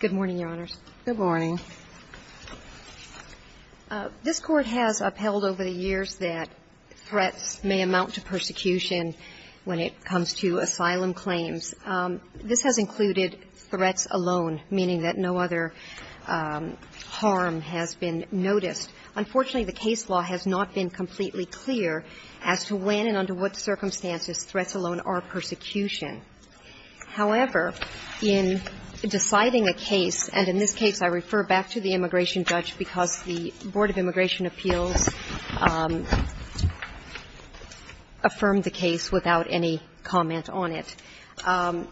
Good morning, Your Honors. Good morning. This Court has upheld over the years that threats may amount to persecution when it comes to asylum claims. This has included threats alone, meaning that no other harm has been noticed. Unfortunately, the case law has not been completely clear as to when and under what circumstances threats alone are persecution. However, in deciding a case, and in this case I refer back to the immigration judge, because the Board of Immigration Appeals affirmed the case without any comment on it, an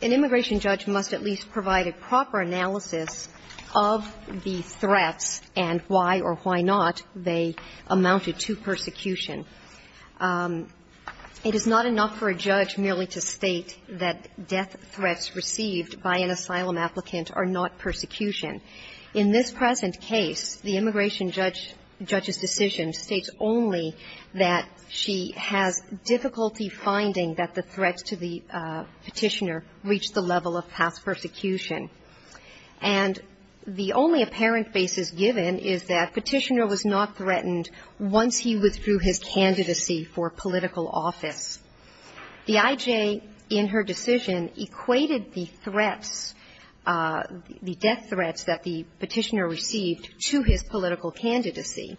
immigration judge must at least provide a proper analysis of the threats and why or why not they amounted to persecution. It is not enough for a judge merely to state that death threats received by an asylum applicant are not persecution. In this present case, the immigration judge's decision states only that she has difficulty finding that the threats to the Petitioner reached the level of past persecution. And the only apparent basis given is that Petitioner was not threatened once he withdrew his candidacy for political office. The I.J., in her decision, equated the threats, the death threats that the Petitioner received to his political candidacy.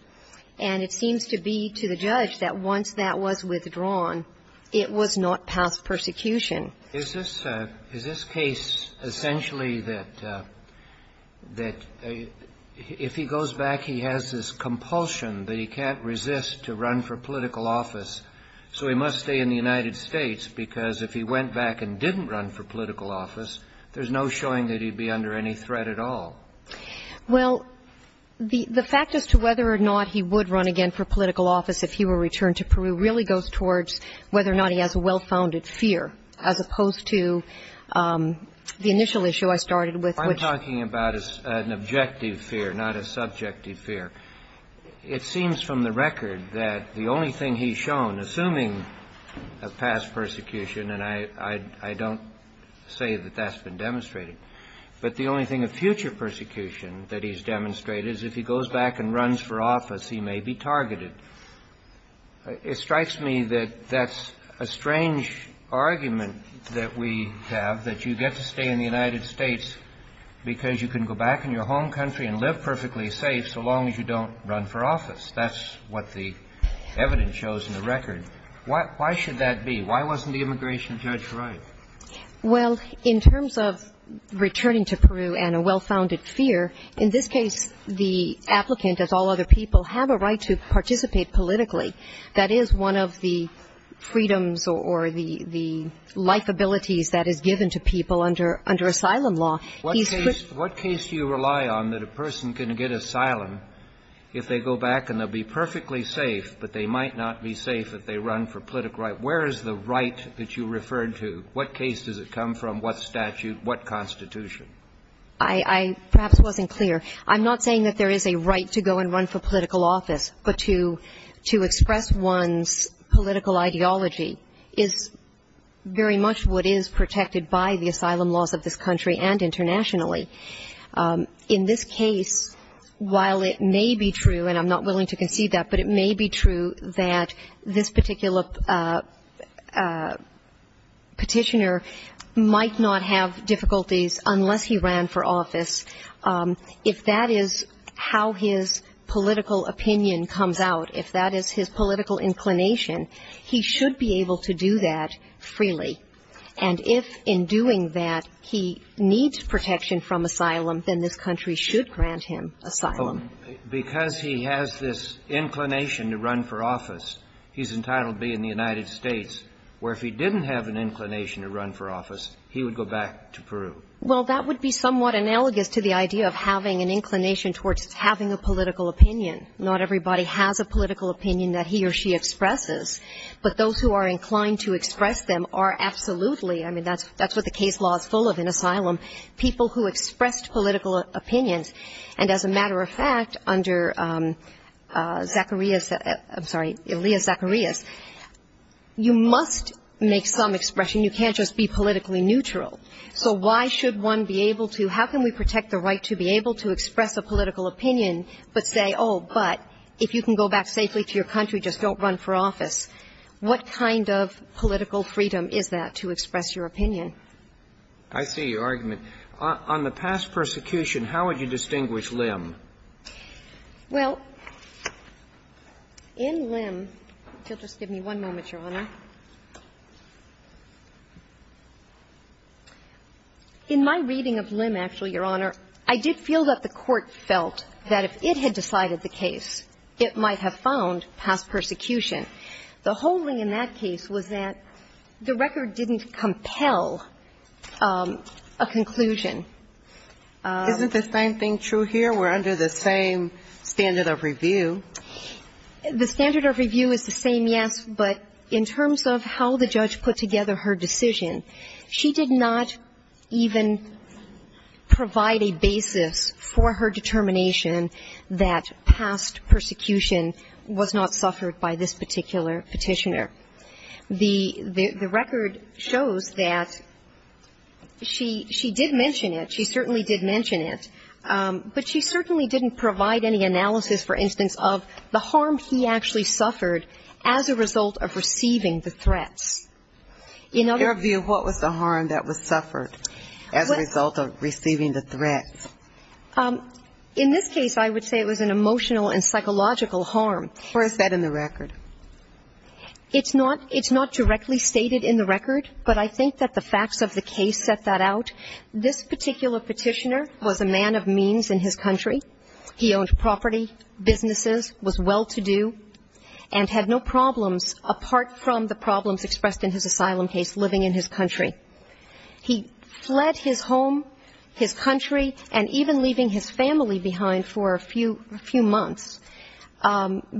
And it seems to be to the judge that once that was withdrawn, it was not past persecution. Is this case essentially that if he goes back, he has this compulsion that he can't resist to run for political office, so he must stay in the United States? Because if he went back and didn't run for political office, there's no showing that he'd be under any threat at all. Well, the fact as to whether or not he would run again for political office if he were returned to Peru really goes towards whether or not he has a well-founded fear, as opposed to the initial issue I started with, which was I'm talking about an objective fear, not a subjective fear. It seems from the record that the only thing he's shown, assuming a past persecution and I don't say that that's been demonstrated, but the only thing of future persecution that he's demonstrated is if he goes back and runs for office, he may be targeted. It strikes me that that's a strange argument that we have, that you get to stay in the United States because you can go back in your home country and live perfectly safe so long as you don't run for office. That's what the evidence shows in the record. Why should that be? Why wasn't the immigration judge right? Well, in terms of returning to Peru and a well-founded fear, in this case, the applicant, as all other people, have a right to participate politically. That is one of the freedoms or the life abilities that is given to people under asylum law. What case do you rely on that a person can get asylum if they go back and they'll be perfectly safe, but they might not be safe if they run for political right? Where is the right that you referred to? What case does it come from? What statute? What constitution? I perhaps wasn't clear. I'm not saying that there is a right to go and run for political office, but to express one's political ideology is very much what is protected by the asylum laws of this country and internationally. In this case, while it may be true, and I'm not willing to concede that, but it may be true that this particular petitioner might not have difficulties unless he ran for office. If that is how his political opinion comes out, if that is his political inclination, he should be able to do that freely. And if in doing that he needs protection from asylum, then this country should grant him asylum. Because he has this inclination to run for office, he's entitled to be in the United States, where if he didn't have an inclination to run for office, he would go back to Peru. Well, that would be somewhat analogous to the idea of having an inclination towards having a political opinion. Not everybody has a political opinion that he or she expresses, but those who are inclined to express them are absolutely, I mean, that's what the case law is full of in asylum, people who expressed political opinions. And as a matter of fact, under Zacarias, I'm sorry, Elia Zacarias, you must make some expression. You can't just be politically neutral. So why should one be able to, how can we protect the right to be able to express a political opinion, but say, oh, but if you can go back safely to your country, just don't run for office? What kind of political freedom is that to express your opinion? I see your argument. On the past persecution, how would you distinguish Lim? Well, in Lim – just give me one moment, Your Honor. In my reading of Lim, actually, Your Honor, I did feel that the Court felt that if it had decided the case, it might have found past persecution. The whole thing in that case was that the record didn't compel a conclusion. Isn't the same thing true here? We're under the same standard of review. The standard of review is the same, yes, but in terms of how the judge put together her decision, she did not even provide a basis for her determination that past persecution was not suffered by this particular petitioner. The record shows that she did mention it. She certainly did mention it, but she certainly didn't provide any analysis, for instance, of the harm he actually suffered as a result of receiving the threats. In other words – In your view, what was the harm that was suffered as a result of receiving the threats? In this case, I would say it was an emotional and psychological harm. Or is that in the record? It's not – it's not directly stated in the record, but I think that the facts of the case set that out. This particular petitioner was a man of means in his country. He owned property, businesses, was well-to-do, and had no problems apart from the problems expressed in his asylum case, living in his country. He fled his home, his country, and even leaving his family behind for a few months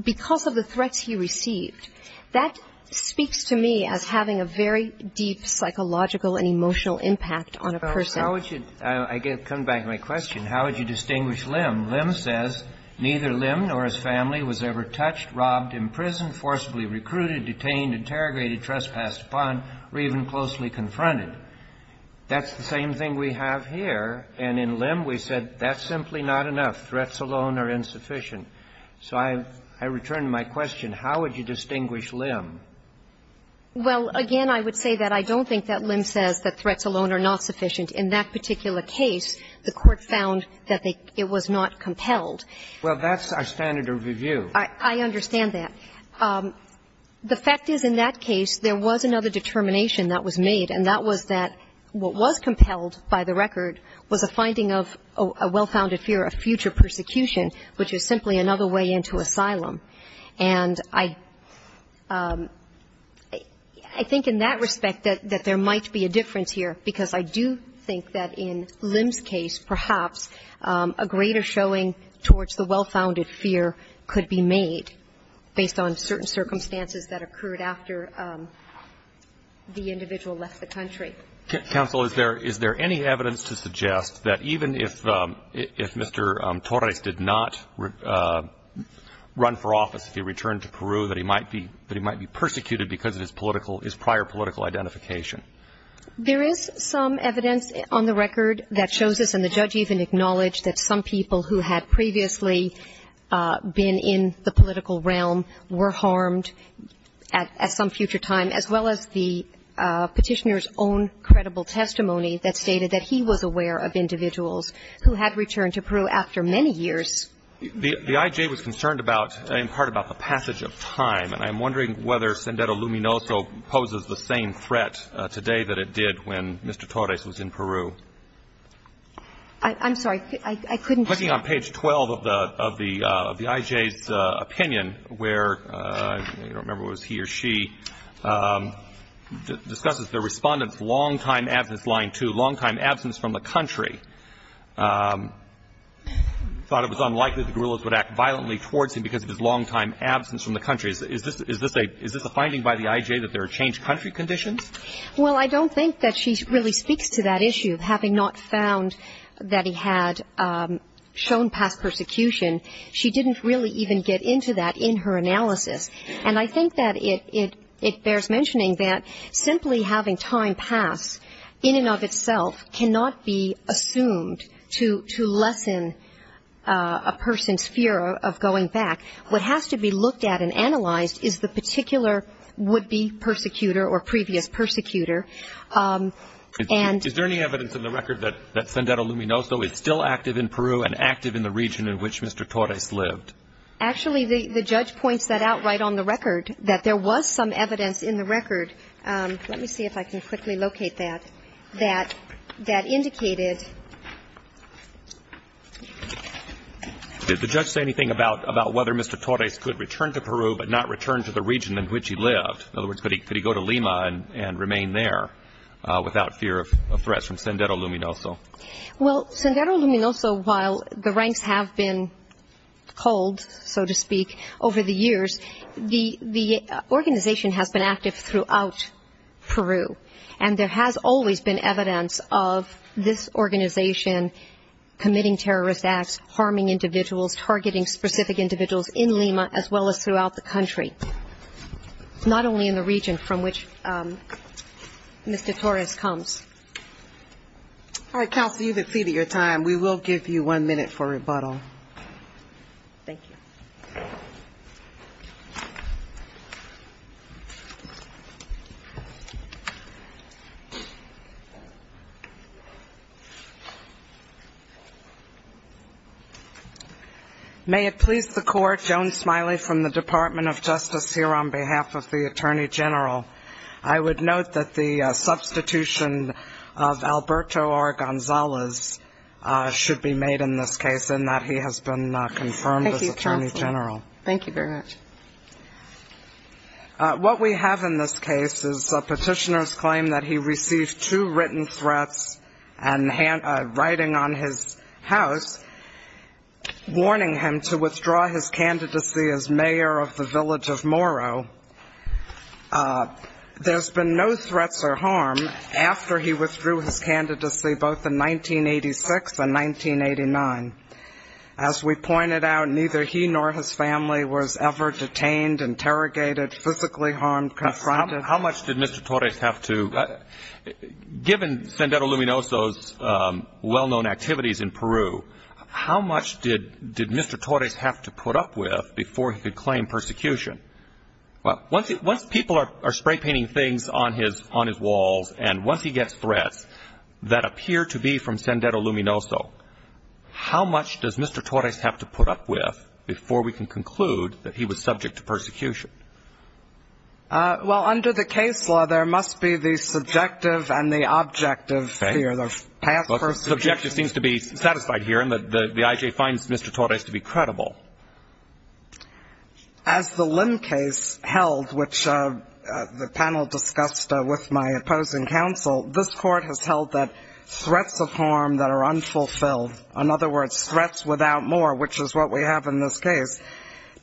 because of the threats he received. That speaks to me as having a very deep psychological and emotional impact on a person. Well, how would you – I get – coming back to my question, how would you distinguish Lim? Lim says, neither Lim nor his family was ever touched, robbed, imprisoned, forcibly recruited, detained, interrogated, trespassed upon, or even closely confronted. That's the same thing we have here. And in Lim, we said that's simply not enough. Threats alone are insufficient. So I return to my question. How would you distinguish Lim? Well, again, I would say that I don't think that Lim says that threats alone are not sufficient. In that particular case, the Court found that they – it was not compelled. Well, that's our standard of review. I understand that. The fact is, in that case, there was another determination that was made, and that was that what was compelled by the record was a finding of a well-founded fear of future persecution, which is simply another way into asylum. And I – I think in that respect that there might be a difference here, because I do think that in Lim's case, perhaps, a greater showing towards the well-founded fear could be made based on certain circumstances that occurred after the individual left the country. Counsel, is there – is there any evidence to suggest that even if Mr. Torres did not run for office, if he returned to Peru, that he might be – that he might be persecuted because of his political – his prior political identification? There is some evidence on the record that shows us, and the judge even acknowledged, that some people who had previously been in the political realm were harmed at some future time, as well as the Petitioner's own credible testimony that stated that he was aware of individuals who had returned to Peru after many years. The IJ was concerned about – in part about the passage of time, and I'm wondering whether Sendero Luminoso poses the same threat today that it did when Mr. Torres was in Peru. I'm sorry. I couldn't hear you. I'm looking on page 12 of the – of the IJ's opinion, where – I don't remember if it was he or she – discusses the Respondent's long-time absence, line two, long-time absence from the country, thought it was unlikely that the guerrillas would act violently towards him because of his long-time absence from the country. Is this a – is this a finding by the IJ that there are changed country conditions? Well, I don't think that she really speaks to that issue, having not found that he had shown past persecution. She didn't really even get into that in her analysis. And I think that it bears mentioning that simply having time pass, in and of itself, cannot be assumed to – to lessen a person's fear of going back. What has to be looked at and analyzed is the particular would-be persecutor or previous persecutor. And – Is there any evidence in the record that – that Sendero Luminoso is still active in Peru and active in the region in which Mr. Torres lived? Actually, the – the judge points that out right on the record, that there was some evidence in the record – let me see if I can quickly locate that – that – that indicated – Did the judge say anything about – about whether Mr. Torres could return to Peru but not return to the region in which he lived? In other words, could he – could he go to Lima and – and remain there without fear of threat from Sendero Luminoso? Well, Sendero Luminoso, while the ranks have been pulled, so to speak, over the years, the – the organization has been active throughout Peru. And there has always been evidence of this organization committing terrorist acts, harming individuals, targeting specific individuals in Lima, as well as throughout the country, not only in the region from which Mr. Torres comes. All right, counsel, you've exceeded your time. We will give you one minute for rebuttal. Thank you. May it please the Court, Joan Smiley from the Department of Justice here on behalf of the Attorney General. I would note that the substitution of Alberto R. Gonzalez should be made in this case, and that he has been confirmed as Attorney General. Thank you, counsel. Thank you very much. Mr. Torres claimed that he received two written threats and hand – writing on his house warning him to withdraw his candidacy as mayor of the village of Moro. There's been no threats or harm after he withdrew his candidacy both in 1986 and 1989. As we pointed out, neither he nor his family was ever detained, interrogated, physically harmed, confronted. How much did Mr. Torres have to – given Sendero Luminoso's well-known activities in Peru, how much did Mr. Torres have to put up with before he could claim persecution? Once people are spray-painting things on his walls and once he gets threats that appear to be from Sendero Luminoso, how much does Mr. Torres have to put up with before we can conclude that he was subject to persecution? Well, under the case law, there must be the subjective and the objective sphere. Okay. The path for – Subjective seems to be satisfied here, and the I.J. finds Mr. Torres to be credible. As the Lim case held, which the panel discussed with my opposing counsel, this court has held that threats of harm that are unfulfilled – in other words, threats without more, which is what we have in this case –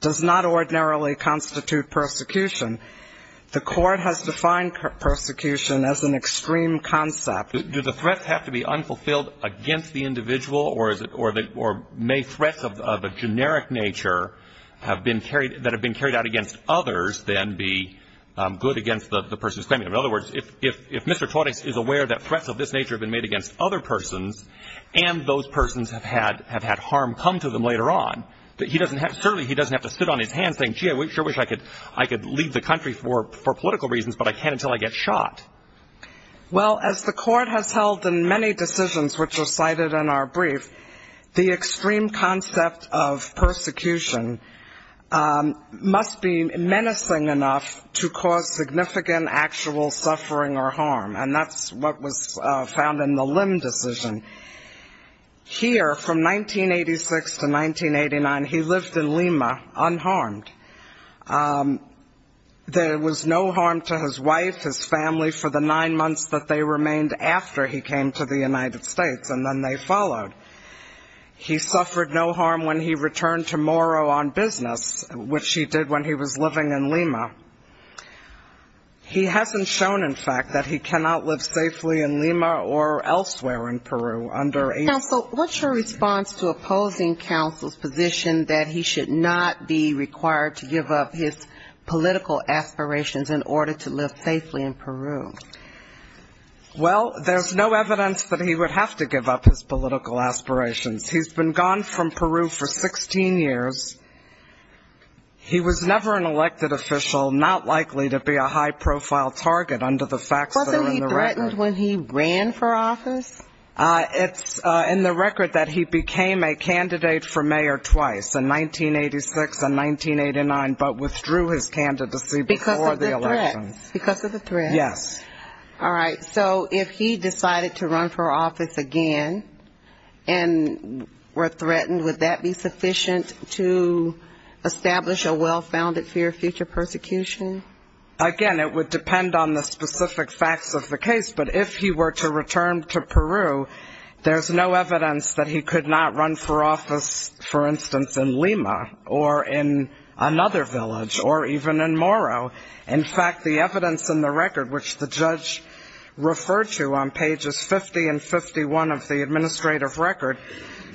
does not ordinarily constitute persecution. The court has defined persecution as an extreme concept. Do the threats have to be unfulfilled against the individual, or may threats of a generic nature that have been carried out against others then be good against the person who's claiming them? In other words, if Mr. Torres is aware that threats of this nature have been made against other persons, and those persons have had harm come to them later on, certainly he doesn't have to sit on his hands saying, gee, I sure wish I could leave the country for political reasons, but I can't until I get shot. Well, as the court has held in many decisions which were cited in our brief, the extreme concept of persecution must be menacing enough to cause significant actual suffering or harm, and that's what was found in the Lim decision. Here, from 1986 to 1989, he lived in Lima unharmed. There was no harm to his wife, his family for the nine months that they remained after he came to the United States, and then they followed. He suffered no harm when he returned to Morro on business, which he did when he was living in Lima. He hasn't shown, in fact, that he cannot live safely in Lima or elsewhere in Peru under a... Counsel, what's your response to opposing counsel's position that he should not be required to give up his political aspirations in order to live safely in Peru? Well, there's no evidence that he would have to give up his political aspirations. He's been gone from Peru for 16 years. He was never an elected official, not likely to be a high-profile target under the facts that are in the record. Wasn't he threatened when he ran for office? It's in the record that he became a candidate for mayor twice, in 1986 and 1989, but withdrew his candidacy before the elections. Because of the threats. Because of the threats. Yes. All right. So if he decided to run for office again and were threatened, would that be sufficient to establish a well-founded fear of future persecution? Again, it would depend on the specific facts of the case. But if he were to return to Peru, there's no evidence that he could not run for office, for instance, in Lima or in another village or even in Moro. In fact, the evidence in the record, which the judge referred to on pages 50 and 51 of the record,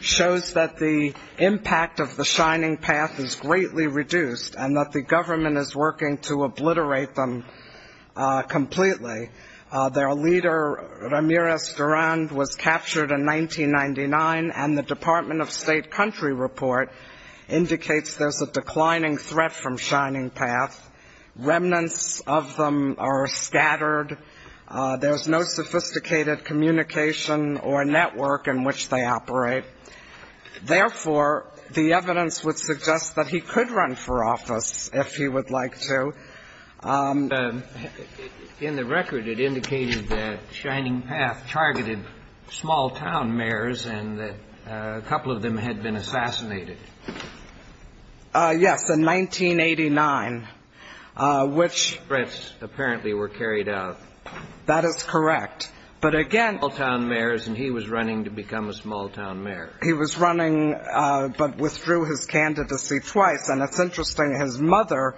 indicates that the Shining Path is greatly reduced and that the government is working to obliterate them completely. Their leader, Ramirez Durand, was captured in 1999, and the Department of State country report indicates there's a declining threat from Shining Path. Remnants of them are scattered. There's no sophisticated communication or network in which they operate. Therefore, the evidence would suggest that he could run for office if he would like to. In the record, it indicated that Shining Path targeted small-town mayors and that a couple of them had been assassinated. Yes, in 1989. Which threats apparently were carried out. That is correct. But again, small-town mayors, and he was running to become a small-town mayor. He was running, but withdrew his candidacy twice. And it's interesting, his mother,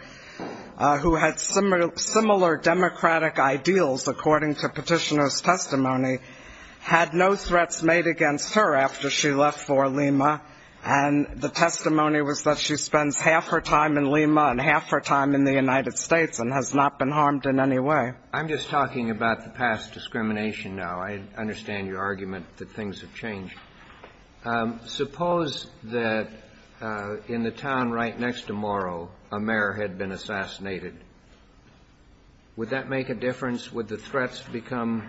who had similar democratic ideals, according to petitioner's testimony, had no threats made against her after she left for Lima. And the testimony was that she spends half her time in Lima and half her time in the United States and has not been harmed in any way. I'm just talking about the past discrimination now. I understand your argument that things have changed. Suppose that in the town right next to Morrow, a mayor had been assassinated. Would that make a difference? Would the threats become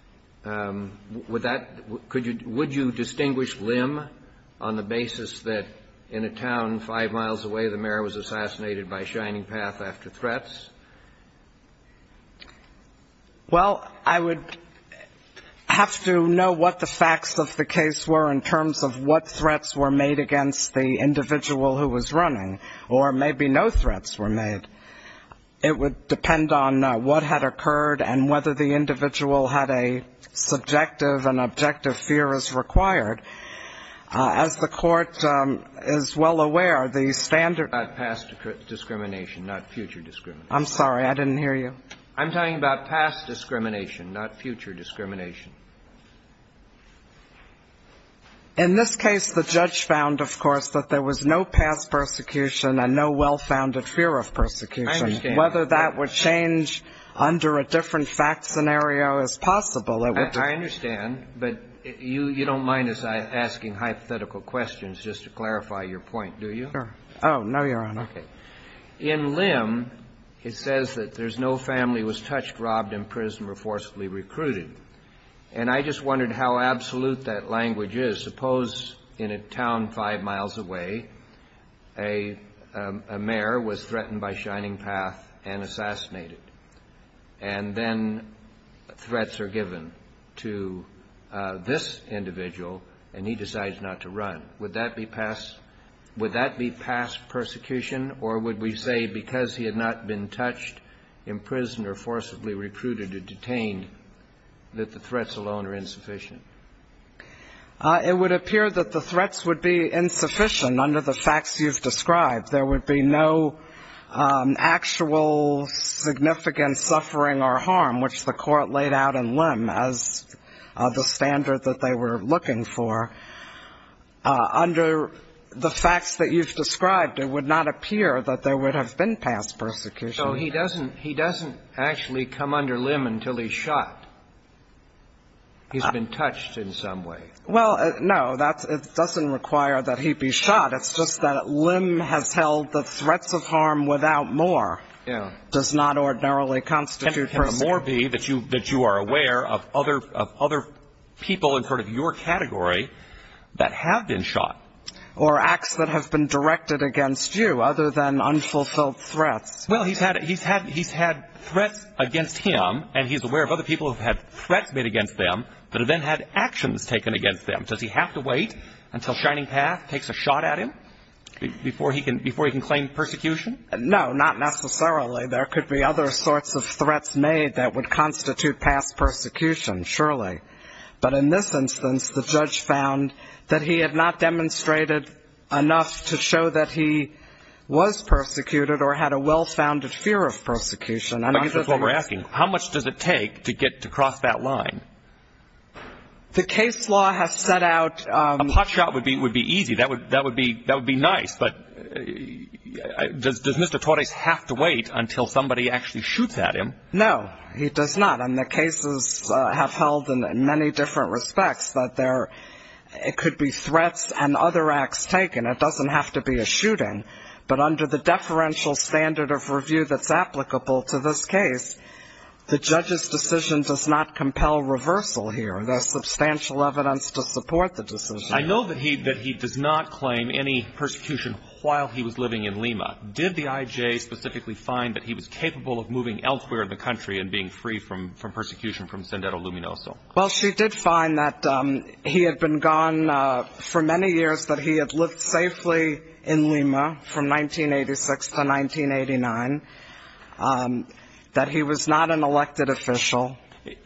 – would that – would you distinguish Lim on the basis that in a Well, I would have to know what the facts of the case were in terms of what threats were made against the individual who was running. Or maybe no threats were made. It would depend on what had occurred and whether the individual had a subjective and objective fear as required. As the court is well aware, the standard – Not past discrimination, not future discrimination. I'm sorry, I didn't hear you. I'm talking about past discrimination, not future discrimination. In this case, the judge found, of course, that there was no past persecution and no well-founded fear of persecution. I understand. Whether that would change under a different fact scenario is possible. I understand, but you don't mind us asking hypothetical questions just to clarify your point, do you? Sure. Oh, no, Your Honor. Okay. In Lim, it says that there's no family was touched, robbed in prison, or forcibly recruited. And I just wondered how absolute that language is. Suppose in a town five miles away, a mayor was threatened by Shining Path and assassinated. And then threats are given to this individual, and he decides not to run. Would that be past persecution, or would we say because he had not been touched, imprisoned, or forcibly recruited or detained, that the threats alone are insufficient? It would appear that the threats would be insufficient under the facts you've described. There would be no actual significant suffering or harm, which the court laid out in Lim as the standard that they were looking for. Under the facts that you've described, it would not appear that there would have been past persecution. So he doesn't actually come under Lim until he's shot. He's been touched in some way. Well, no, it doesn't require that he be shot. It's just that Lim has held the threats of harm without more. Yeah. It does not ordinarily constitute persecution. Or be that you are aware of other people in sort of your category that have been shot. Or acts that have been directed against you, other than unfulfilled threats. Well, he's had threats against him, and he's aware of other people who have had threats made against them that have then had actions taken against them. Does he have to wait until Shining Path takes a shot at him before he can claim persecution? No, not necessarily. There could be other sorts of threats made that would constitute past persecution, surely. But in this instance, the judge found that he had not demonstrated enough to show that he was persecuted or had a well-founded fear of persecution. I guess that's what we're asking. How much does it take to get to cross that line? The case law has set out... A pot shot would be easy. That would be nice. But does Mr. Torres have to wait until somebody actually shoots at him? No, he does not. And the cases have held in many different respects that there could be threats and other acts taken. It doesn't have to be a shooting. But under the deferential standard of review that's applicable to this case, the judge's decision does not compel reversal here. There's substantial evidence to support the decision. I know that he does not claim any persecution while he was living in Lima. Did the IJ specifically find that he was capable of moving elsewhere in the country and being free from persecution from Sendero Luminoso? Well, she did find that he had been gone for many years, that he had lived safely in Lima from 1986 to 1989, that he was not an elected official.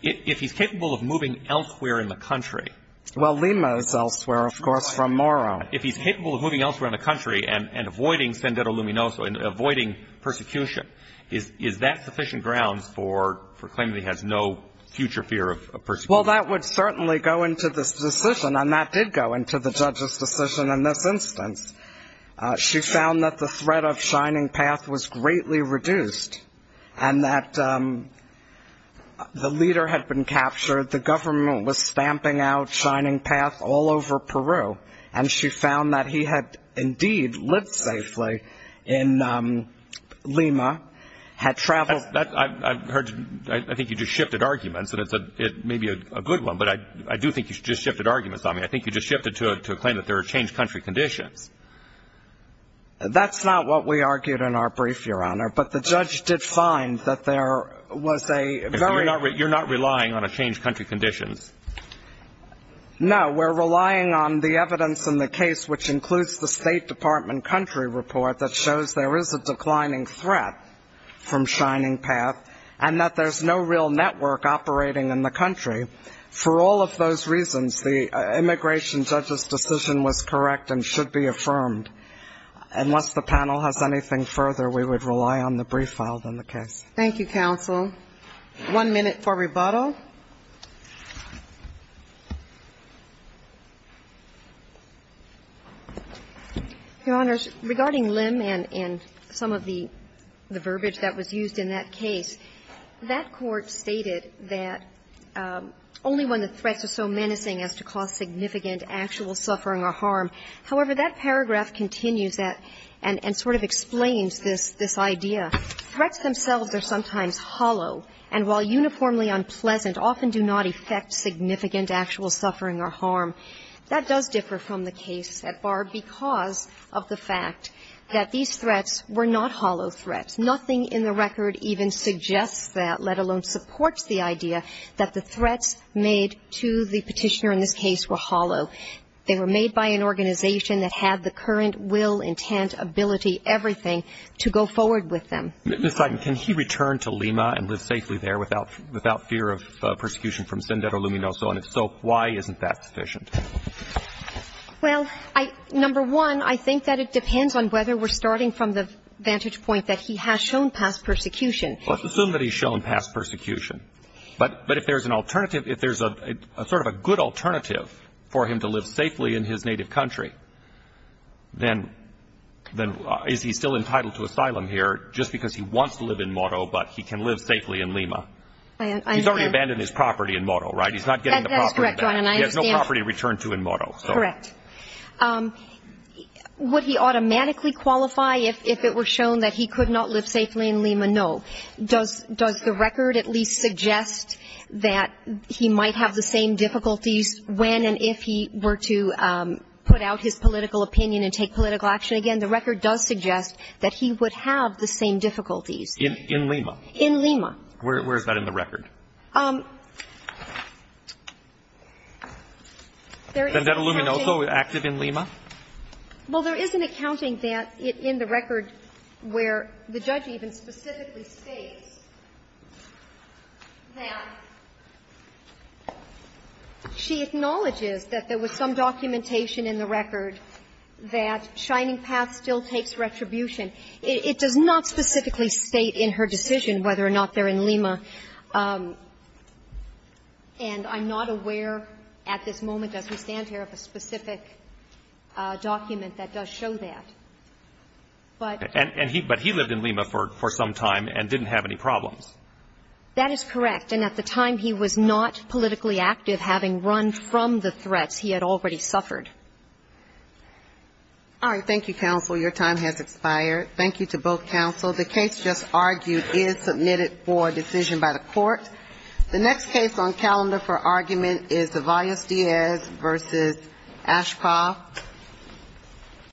If he's capable of moving elsewhere in the country... Well, Lima is elsewhere, of course, from Moro. If he's capable of moving elsewhere in the country and avoiding Sendero Luminoso and avoiding persecution, is that sufficient grounds for claiming that he has no future fear of persecution? Well, that would certainly go into this decision, and that did go into the judge's decision in this instance. She found that the threat of Shining Path was greatly reduced and that the leader had been captured, the government was stamping out Shining Path all over Peru, and she found that he had indeed lived safely in Lima, had traveled... I think you just shifted arguments, and it may be a good one, but I do think you just shifted arguments on me. I think you just shifted to a claim that there are changed country conditions. That's not what we argued in our brief, Your Honor. But the judge did find that there was a very... You're not relying on a changed country conditions? No. We're relying on the evidence in the case, which includes the State Department country report that shows there is a declining threat from Shining Path and that there's no real network operating in the country. For all of those reasons, the immigration judge's decision was correct and should be affirmed. Unless the panel has anything further, we would rely on the brief filed in the case. Thank you, counsel. One minute for rebuttal. Your Honors, regarding Lim and some of the verbiage that was used in that case, that court stated that only when the threats are so menacing as to cause significant actual suffering or harm. However, that paragraph continues that and sort of explains this idea. Threats themselves are sometimes hollow, and while uniformly unpleasant, often do not affect significant actual suffering or harm. That does differ from the case at Barb because of the fact that these threats were not hollow threats. Nothing in the record even suggests that, let alone supports the idea, that the threats made to the Petitioner in this case were hollow. They were made by an organization that had the current will, intent, ability, everything to go forward with them. Ms. Seiden, can he return to Lima and live safely there without fear of persecution from Sendero Luminoso? And if so, why isn't that sufficient? Well, number one, I think that it depends on whether we're starting from the vantage point that he has shown past persecution. Let's assume that he's shown past persecution. But if there's an alternative, if there's sort of a good alternative for him to live safely in his native country, then is he still entitled to asylum here just because he wants to live in Moro but he can live safely in Lima? I understand. He's already abandoned his property in Moro, right? He's not getting the property back. That's correct, John, and I understand. He has no property to return to in Moro. Correct. Would he automatically qualify if it were shown that he could not live safely in Lima? No. Does the record at least suggest that he might have the same difficulties when and if he were to put out his political opinion and take political action again? The record does suggest that he would have the same difficulties. In Lima? In Lima. Where is that in the record? There is an accounting. Sendero Luminoso, active in Lima? Well, there is an accounting that in the record where the judge even specifically states that she acknowledges that there was some documentation in the record that Shining Path still takes retribution. It does not specifically state in her decision whether or not they're in Lima. And I'm not aware at this moment as we stand here of a specific document that does show that. But he lived in Lima for some time and didn't have any problems. That is correct. And at the time he was not politically active, having run from the threats, he had already suffered. All right. Thank you, counsel. Your time has expired. Thank you to both counsel. The case just argued is submitted for decision by the court. The next case on calendar for argument is the Valles-Diez versus Ashpah. Thank you.